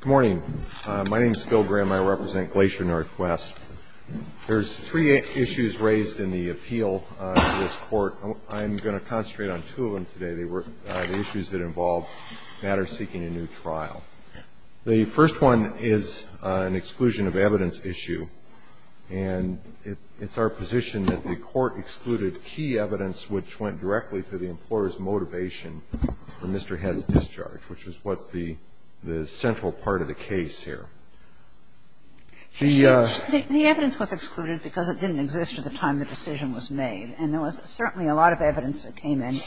Good morning. My name is Bill Graham. I represent Glacier Northwest. There's three issues raised in the appeal to this court. I'm going to concentrate on two of them today. They were the issues that involved matters seeking a new trial. The first one is an exclusion of evidence issue, and it's our position that the court excluded key evidence which went directly to the employer's motivation for Mr. Head's discharge, which is what's the central part of the case here. The evidence was excluded because it didn't exist at the time the decision was made. And there was certainly a lot of evidence that came in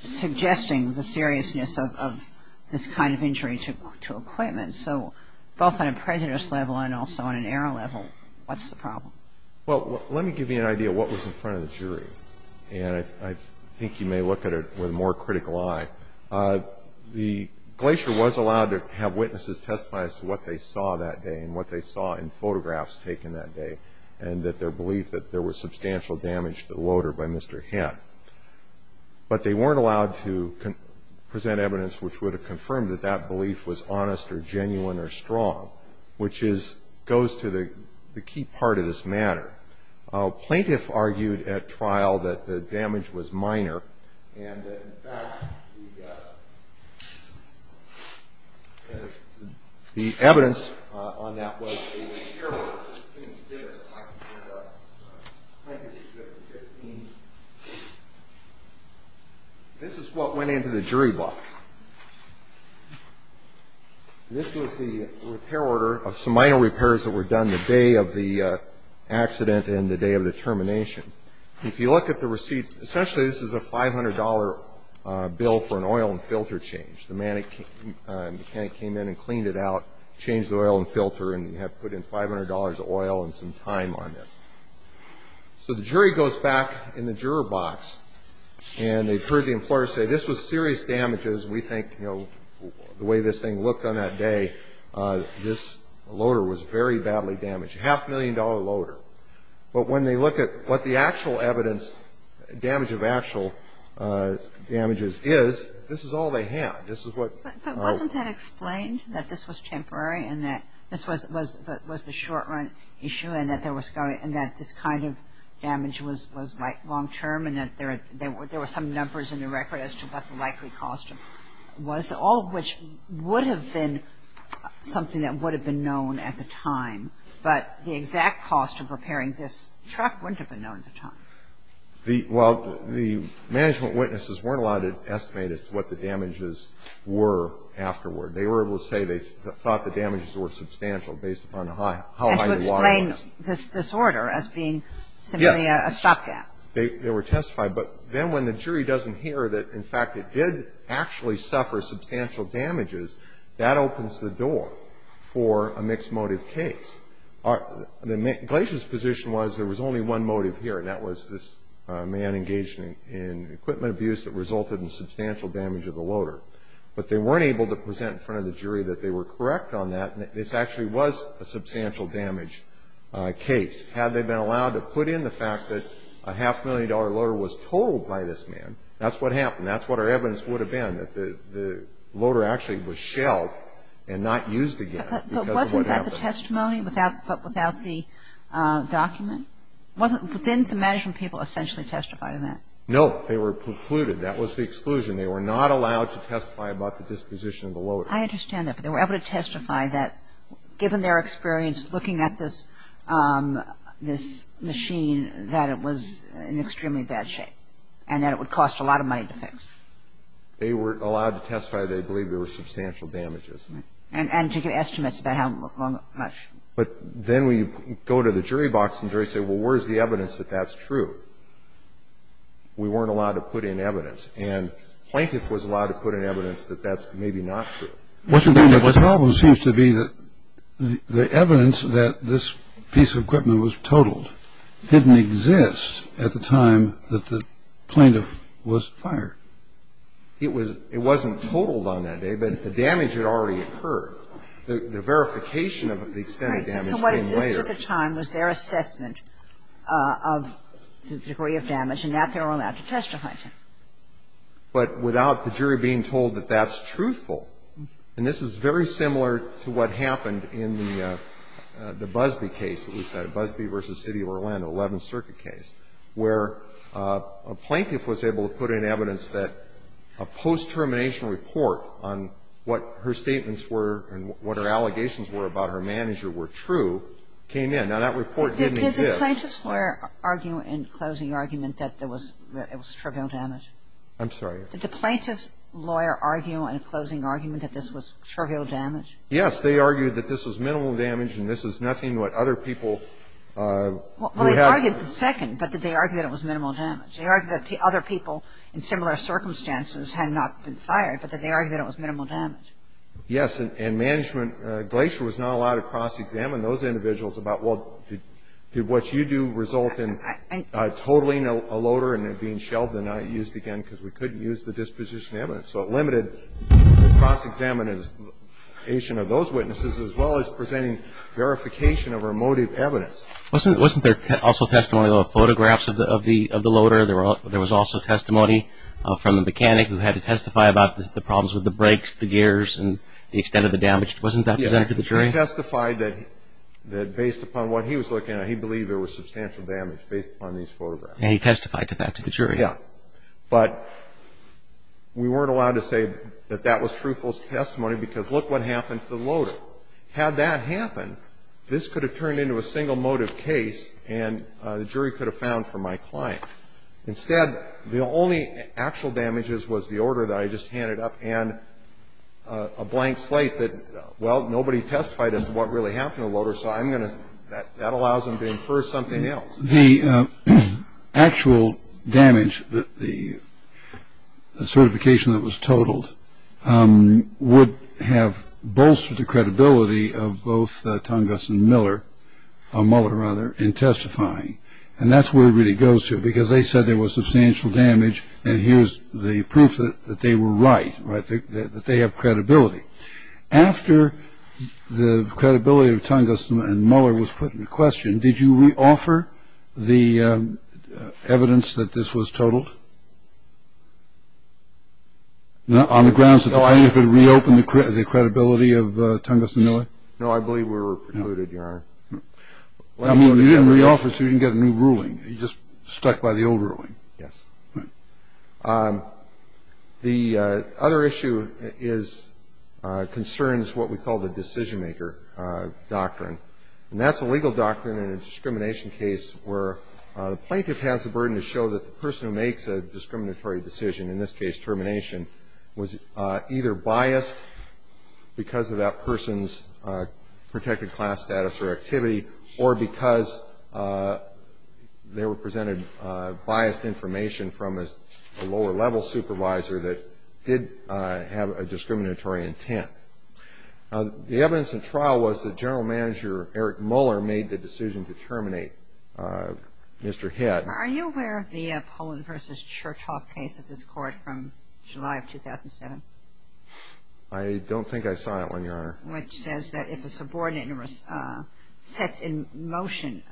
suggesting the seriousness of this kind of injury to equipment. So both on a prejudice level and also on an error level, what's the problem? Well, let me give you an idea of what was in front of the jury, and I think you may look at it with a more critical eye. The Glacier was allowed to have witnesses testify as to what they saw that day and what they saw in photographs taken that day, and that their belief that there was substantial damage to the loader by Mr. Head. But they weren't allowed to present evidence which would have confirmed that that belief was honest or genuine or strong, which goes to the key part of this matter. A plaintiff argued at trial that the damage was minor and that, in fact, the evidence on that was a error. This is what went into the jury box. This was the repair order of some minor repairs that were done the day of the accident and the day of the termination. If you look at the receipt, essentially this is a $500 bill for an oil and filter change. The mechanic came in and cleaned it out, changed the oil and filter, and put in $500 of oil and some time on this. So the jury goes back in the juror box, and they've heard the employer say, this was serious damages. We think, you know, the way this thing looked on that day, this loader was very badly damaged, a half-million dollar loader. But when they look at what the actual evidence, damage of actual damages is, this is all they have. This is what we know. that this was temporary and that this was the short-run issue and that this kind of damage was long-term and that there were some numbers in the record as to what the likely cost was, all of which would have been something that would have been known at the time. But the exact cost of repairing this truck wouldn't have been known at the time. Well, the management witnesses weren't allowed to estimate as to what the damages were afterward. They were able to say they thought the damages were substantial based upon how high the water was. And to explain this disorder as being simply a stopgap. Yes. They were testified. But then when the jury doesn't hear that, in fact, it did actually suffer substantial damages, that opens the door for a mixed-motive case. Glacier's position was there was only one motive here, and that was this man engaged in equipment abuse that resulted in substantial damage of the loader. But they weren't able to present in front of the jury that they were correct on that and that this actually was a substantial damage case. Had they been allowed to put in the fact that a half-million dollar loader was told by this man, that's what happened. That's what our evidence would have been, that the loader actually was shelled and not used again because of what happened. But they weren't allowed to testify without the testimony, without the document? Didn't the management people essentially testify to that? No. They were precluded. That was the exclusion. They were not allowed to testify about the disposition of the loader. I understand that. But they were able to testify that given their experience looking at this machine, that it was in extremely bad shape and that it would cost a lot of money to fix. They were allowed to testify they believed there were substantial damages. And to give estimates about how much? But then we go to the jury box and say, well, where's the evidence that that's true? We weren't allowed to put in evidence. And the plaintiff was allowed to put in evidence that that's maybe not true. The problem seems to be that the evidence that this piece of equipment was totaled didn't exist at the time that the plaintiff was fired. It wasn't totaled on that day, but the damage had already occurred. The verification of the extent of damage came later. Right. So what existed at the time was their assessment of the degree of damage and that they were allowed to testify to. But without the jury being told that that's truthful, and this is very similar to what happened in the Busbee case, Busbee v. City of Orlando, 11th Circuit case, where a plaintiff was able to put in evidence that a post-termination report on what her statements were and what her allegations were about her manager were true, came in. Now, that report didn't exist. But did the plaintiff's lawyer argue in closing argument that it was trivial damage? I'm sorry. Did the plaintiff's lawyer argue in closing argument that this was trivial damage? Yes. They argued that this was minimal damage and this is nothing what other people who had been there. Well, they argued the second, but that they argued that it was minimal damage. They argued that the other people in similar circumstances had not been fired, but that they argued that it was minimal damage. Yes. And management, Glacier, was not allowed to cross-examine those individuals about, well, did what you do result in totaling a loader and it being shelved and not used again because we couldn't use the disposition evidence. So it limited cross-examination of those witnesses as well as presenting verification of her motive evidence. Wasn't there also testimony of photographs of the loader? There was also testimony from the mechanic who had to testify about the problems with the brakes, the gears, and the extent of the damage. Wasn't that presented to the jury? Yes. He testified that based upon what he was looking at, he believed there was substantial damage based upon these photographs. And he testified to that to the jury. Yes. But we weren't allowed to say that that was truthful testimony because look what happened to the loader. Had that happened, this could have turned into a single motive case and the jury could have found for my client. Instead, the only actual damages was the order that I just handed up and a blank slate that, well, nobody testified as to what really happened to the loader, so I'm going to, that allows them to infer something else. The actual damage, the certification that was totaled, would have bolstered the credibility of both Tongass and Miller, or Mueller rather, in testifying. And that's where it really goes to because they said there was substantial damage and here's the proof that they were right, right, that they have credibility. After the credibility of Tongass and Mueller was put into question, did you re-offer the evidence that this was totaled? On the grounds that the plaintiff had reopened the credibility of Tongass and Miller? No, I believe we were precluded, Your Honor. You didn't re-offer so you didn't get a new ruling. You just stuck by the old ruling. Yes. The other issue concerns what we call the decision-maker doctrine, and that's a legal doctrine in a discrimination case where the plaintiff has the burden to show that the person who makes a discriminatory decision, in this case termination, was either biased because of that person's protected class status or activity, or because they were presented biased information from a lower-level supervisor that did have a discriminatory intent. The evidence in trial was that General Manager Eric Mueller made the decision to terminate Mr. Head. Are you aware of the Pollin v. Churchhoff case at this court from July of 2007? I don't think I saw that one, Your Honor. Which says that if a subordinate sets in motion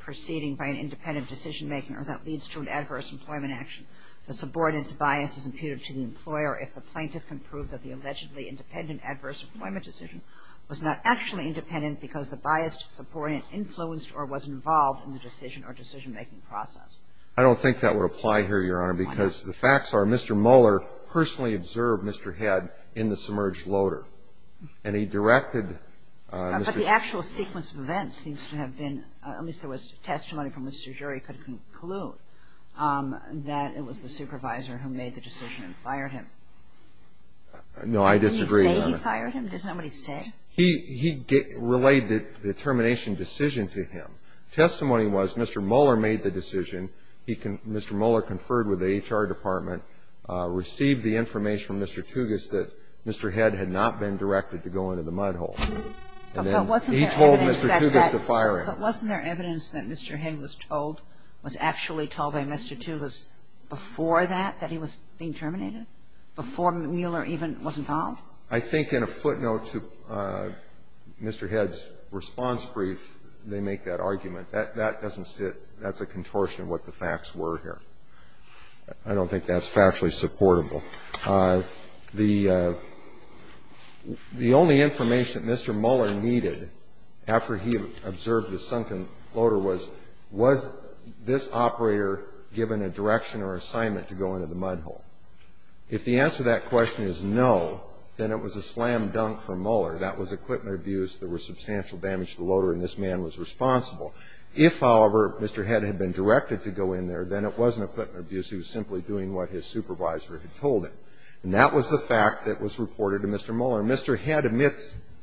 proceeding by an independent decision-maker that leads to an adverse employment action, the subordinate's bias is imputed to the employer if the plaintiff can prove that the allegedly independent adverse employment decision was not actually independent because the biased subordinate influenced or was involved in the decision or decision-making process. I don't think that would apply here, Your Honor, because the facts are Mr. Mueller personally observed Mr. Head in the submerged loader. And he directed Mr. Head. But the actual sequence of events seems to have been, at least there was testimony from Mr. Jury could conclude, that it was the supervisor who made the decision and fired him. No, I disagree, Your Honor. Did he say he fired him? Does nobody say? He relayed the termination decision to him. Testimony was Mr. Mueller made the decision. Mr. Mueller conferred with the H.R. Department, received the information from Mr. Tougas that Mr. Head had not been directed to go into the mud hole. And then he told Mr. Tougas to fire him. But wasn't there evidence that Mr. Head was told, was actually told by Mr. Tougas before that, that he was being terminated, before Mueller even was involved? I think in a footnote to Mr. Head's response brief, they make that argument. That doesn't sit, that's a contortion of what the facts were here. I don't think that's factually supportable. The only information that Mr. Mueller needed after he observed the sunken loader was, was this operator given a direction or assignment to go into the mud hole? If the answer to that question is no, then it was a slam dunk for Mueller. That was equipment abuse. There was substantial damage to the loader, and this man was responsible. If, however, Mr. Head had been directed to go in there, then it wasn't equipment abuse. He was simply doing what his supervisor had told him. And that was the fact that was reported to Mr. Mueller. Mr. Head admitted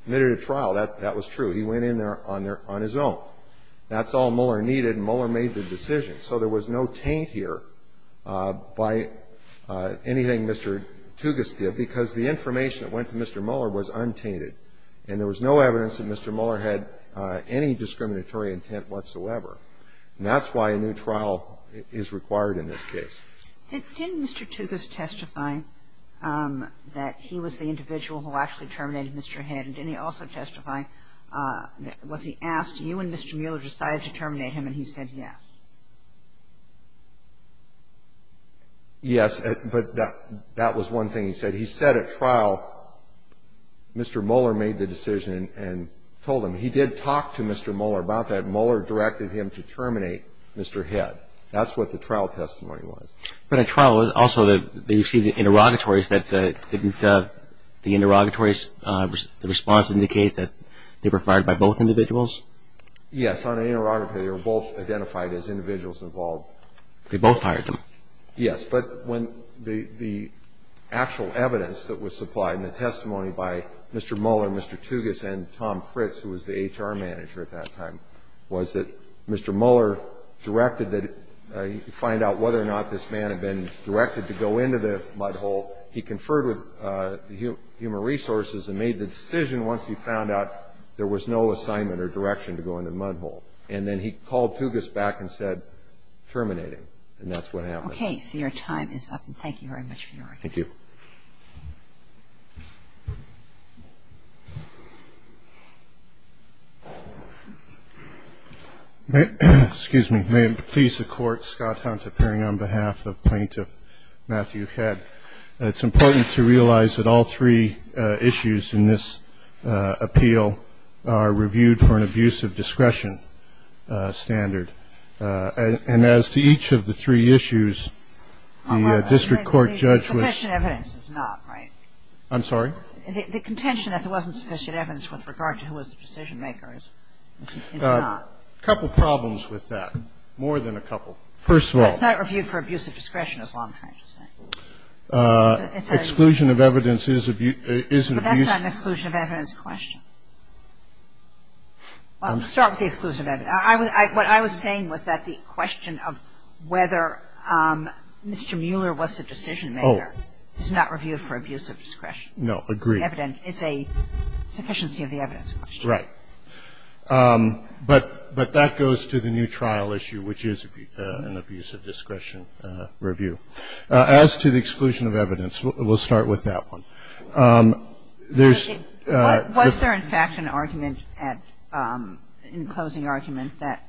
to trial. That was true. He went in there on his own. That's all Mueller needed, and Mueller made the decision. So there was no taint here by anything Mr. Tougas did, because the information that went to Mr. Mueller was untainted. And there was no evidence that Mr. Mueller had any discriminatory intent whatsoever. And that's why a new trial is required in this case. Didn't Mr. Tougas testify that he was the individual who actually terminated Mr. Head? And didn't he also testify, was he asked, did you and Mr. Mueller decide to terminate him, and he said yes? Yes, but that was one thing he said. He said at trial Mr. Mueller made the decision and told him. He did talk to Mr. Mueller about that. Mueller directed him to terminate Mr. Head. That's what the trial testimony was. But at trial also they received interrogatories that didn't, the interrogatories, the response indicated that they were fired by both individuals? Yes, on an interrogatory they were both identified as individuals involved. They both fired them? Yes, but when the actual evidence that was supplied in the testimony by Mr. Mueller and Mr. Tougas and Tom Fritz, who was the HR manager at that time, was that Mr. Mueller directed that he find out whether or not this man had been directed to go into the mud hole. He conferred with Human Resources and made the decision once he found out there was no assignment or direction to go into the mud hole. And then he called Tougas back and said terminate him, and that's what happened. Okay, so your time is up, and thank you very much for your argument. Thank you. Excuse me. May it please the Court, Scott Hunt appearing on behalf of Plaintiff Matthew Head. It's important to realize that all three issues in this appeal are reviewed for an abuse of discretion standard. And as to each of the three issues, the district court judge was. I'm sorry? The contention that there wasn't sufficient evidence with regard to who was the decision-maker is not. A couple problems with that, more than a couple. First of all. It's not reviewed for abuse of discretion, is all I'm trying to say. It's an exclusion of evidence is an abuse. But that's not an exclusion of evidence question. Start with the exclusion of evidence. What I was saying was that the question of whether Mr. Mueller was the decision-maker is not reviewed for abuse of discretion. No, agreed. It's a sufficiency of the evidence question. Right. But that goes to the new trial issue, which is an abuse of discretion review. As to the exclusion of evidence, we'll start with that one. Was there, in fact, an argument in closing argument that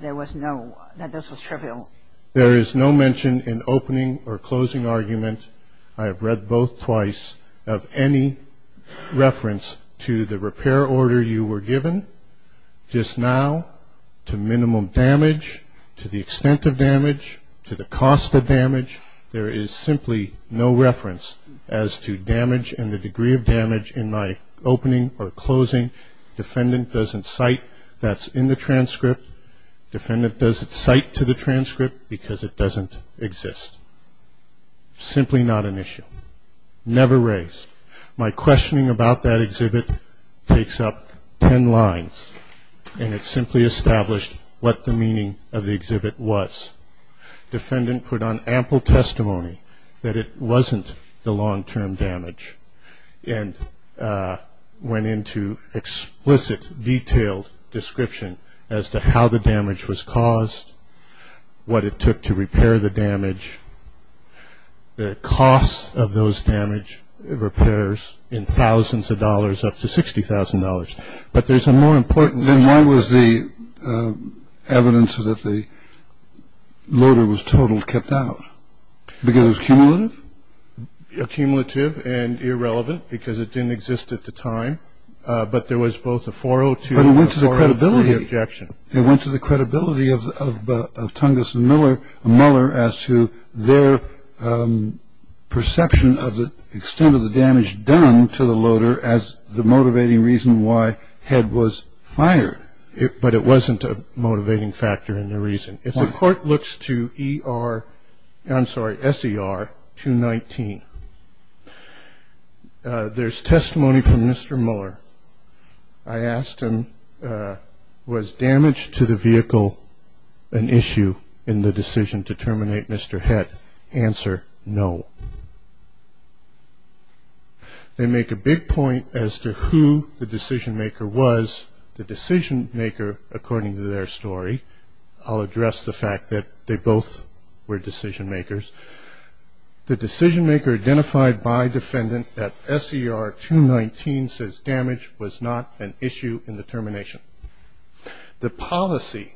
there was no, that this was trivial? There is no mention in opening or closing argument, I have read both twice, of any reference to the repair order you were given. Just now, to minimum damage, to the extent of damage, to the cost of damage, there is simply no reference as to damage and the degree of damage in my opening or closing. Defendant doesn't cite that's in the transcript. Defendant doesn't cite to the transcript because it doesn't exist. Simply not an issue. Never raised. My questioning about that exhibit takes up ten lines, and it simply established what the meaning of the exhibit was. Defendant put on ample testimony that it wasn't the long-term damage and went into explicit, detailed description as to how the damage was caused, what it took to repair the damage, the cost of those damage repairs in thousands of dollars, up to $60,000. But there's a more important issue. Then why was the evidence that the loader was totaled kept out? Because it was cumulative? Accumulative and irrelevant because it didn't exist at the time. But there was both a 402 and a 403 objection. But it went to the credibility of Tungus and Mueller as to their perception of the extent of the damage done to the loader as the motivating reason why Head was fired. But it wasn't a motivating factor and a reason. If the court looks to S.E.R. 219, there's testimony from Mr. Mueller. I asked him, was damage to the vehicle an issue in the decision to terminate Mr. Head? Answer, no. They make a big point as to who the decision-maker was. The decision-maker, according to their story, I'll address the fact that they both were decision-makers. The decision-maker identified by defendant at S.E.R. 219 says damage was not an issue in the termination. The policy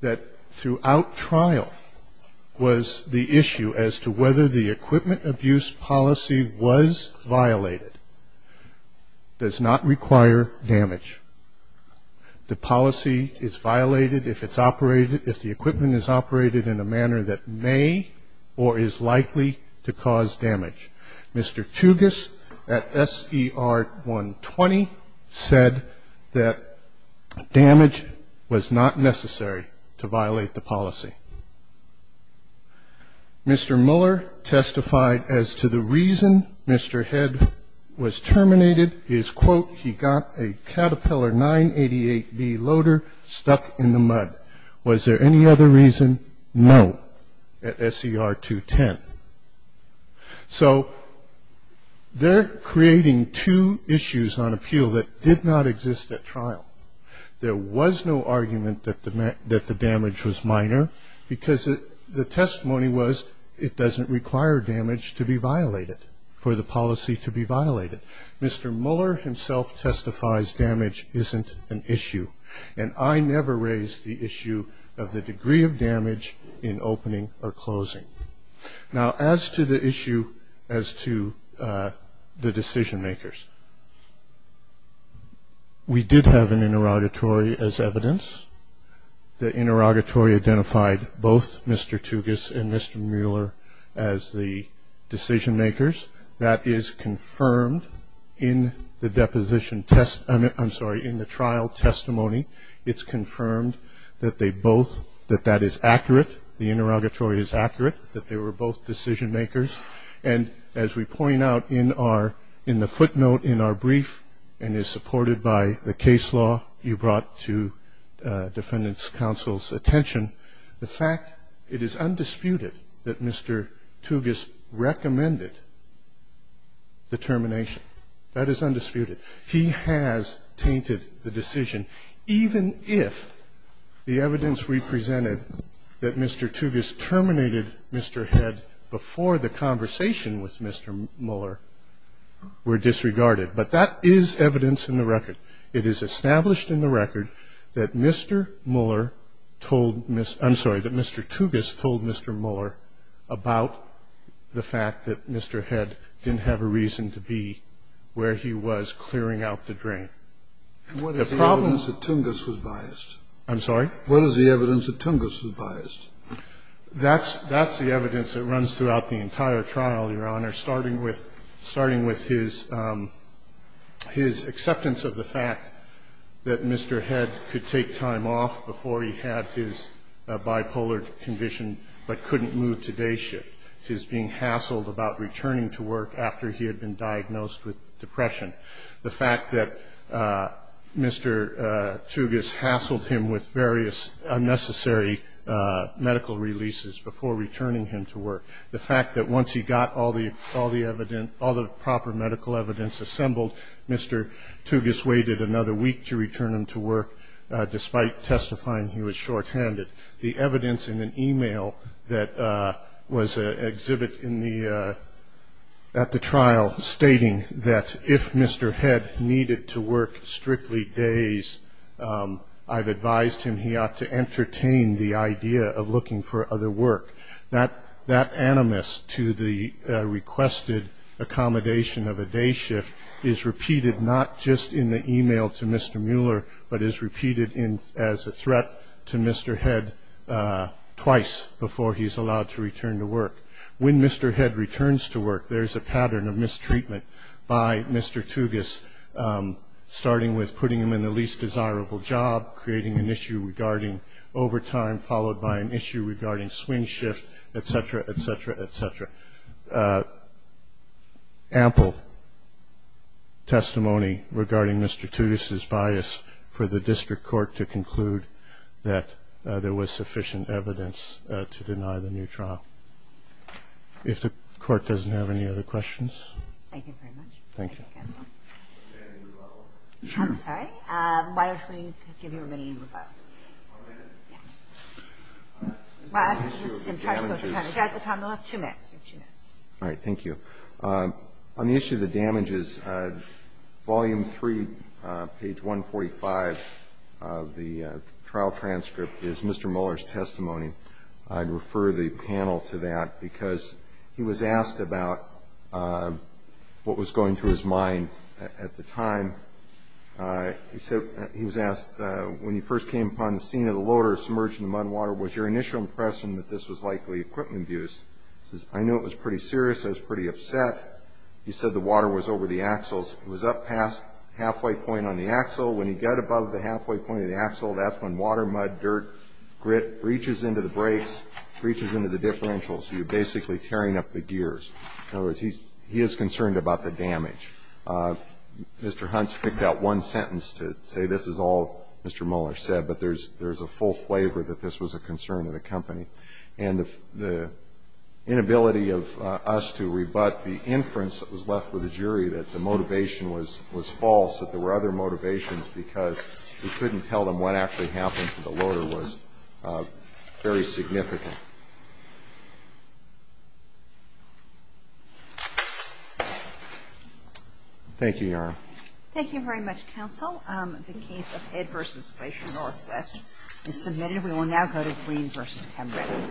that throughout trial was the issue as to whether the equipment abuse policy was violated does not require damage. The policy is violated if it's operated, if the equipment is operated in a manner that may or is likely to cause damage. Mr. Tungus at S.E.R. 120 said that damage was not necessary to violate the policy. Mr. Mueller testified as to the reason Mr. Head was terminated. His quote, he got a Caterpillar 988B loader stuck in the mud. Was there any other reason? No, at S.E.R. 210. So they're creating two issues on appeal that did not exist at trial. There was no argument that the damage was minor because the testimony was it doesn't require damage to be violated, for the policy to be violated. Mr. Mueller himself testifies damage isn't an issue, and I never raised the issue of the degree of damage in opening or closing. Now, as to the issue as to the decision-makers, we did have an interrogatory as evidence. The interrogatory identified both Mr. Tungus and Mr. Mueller as the decision-makers. That is confirmed in the deposition test, I'm sorry, in the trial testimony. It's confirmed that they both, that that is accurate, the interrogatory is accurate, that they were both decision-makers. And as we point out in our, in the footnote in our brief, and is supported by the case law you brought to defendant's counsel's attention, the fact it is undisputed that Mr. Tungus recommended the termination. That is undisputed. He has tainted the decision, even if the evidence we presented that Mr. Tungus terminated Mr. Head before the conversation with Mr. Mueller were disregarded. But that is evidence in the record. It is established in the record that Mr. Mueller told, I'm sorry, that Mr. Tungus told Mr. Mueller about the fact that Mr. Head didn't have a reason to be where he was clearing out the drain. The problem is that Tungus was biased. I'm sorry? What is the evidence that Tungus was biased? That's the evidence that runs throughout the entire trial, Your Honor, starting with his acceptance of the fact that Mr. Head could take time off before he had his bipolar condition, but couldn't move to day shift. His being hassled about returning to work after he had been diagnosed with depression. The fact that Mr. Tungus hassled him with various unnecessary medical releases before returning him to work. The fact that once he got all the proper medical evidence assembled, Mr. Tungus waited another week to return him to work, despite testifying he was shorthanded. The evidence in an e-mail that was exhibited at the trial, stating that if Mr. Head needed to work strictly days, I've advised him he ought to entertain the idea of looking for other work. That animus to the requested accommodation of a day shift is repeated, not just in the e-mail to Mr. Mueller, but is repeated as a threat to Mr. Head twice before he's allowed to return to work. When Mr. Head returns to work, there's a pattern of mistreatment by Mr. Tungus, starting with putting him in the least desirable job, creating an issue regarding overtime, followed by an issue regarding swing shift, et cetera, et cetera, et cetera. Ample testimony regarding Mr. Tungus' bias for the district court to conclude that there was sufficient evidence to deny the new trial. If the court doesn't have any other questions. Thank you very much. Thank you. I'm sorry. Why don't we give you a minute and rebuttal. One minute? Yes. Mr. Mueller, two minutes. All right. Thank you. On the issue of the damages, volume 3, page 145 of the trial transcript is Mr. Mueller's testimony. I'd refer the panel to that because he was asked about what was going through his mind at the time. He was asked, when you first came upon the scene of the loader submerged in the mud water, was your initial impression that this was likely equipment abuse? He says, I know it was pretty serious. I was pretty upset. He said the water was over the axles. It was up past the halfway point on the axle. When you get above the halfway point of the axle, that's when water, mud, dirt, grit breaches into the brakes, breaches into the differentials. You're basically tearing up the gears. In other words, he is concerned about the damage. Mr. Hunt's picked out one sentence to say this is all Mr. Mueller said, but there's a full flavor that this was a concern of the company. And the inability of us to rebut the inference that was left with the jury that the motivation was false, that there were other motivations because we couldn't tell them what actually happened to the loader, was very significant. Thank you, Your Honor. Thank you very much, counsel. The case of Head v. Glacier Northwest is submitted. We will now go to Green v. Pembroke.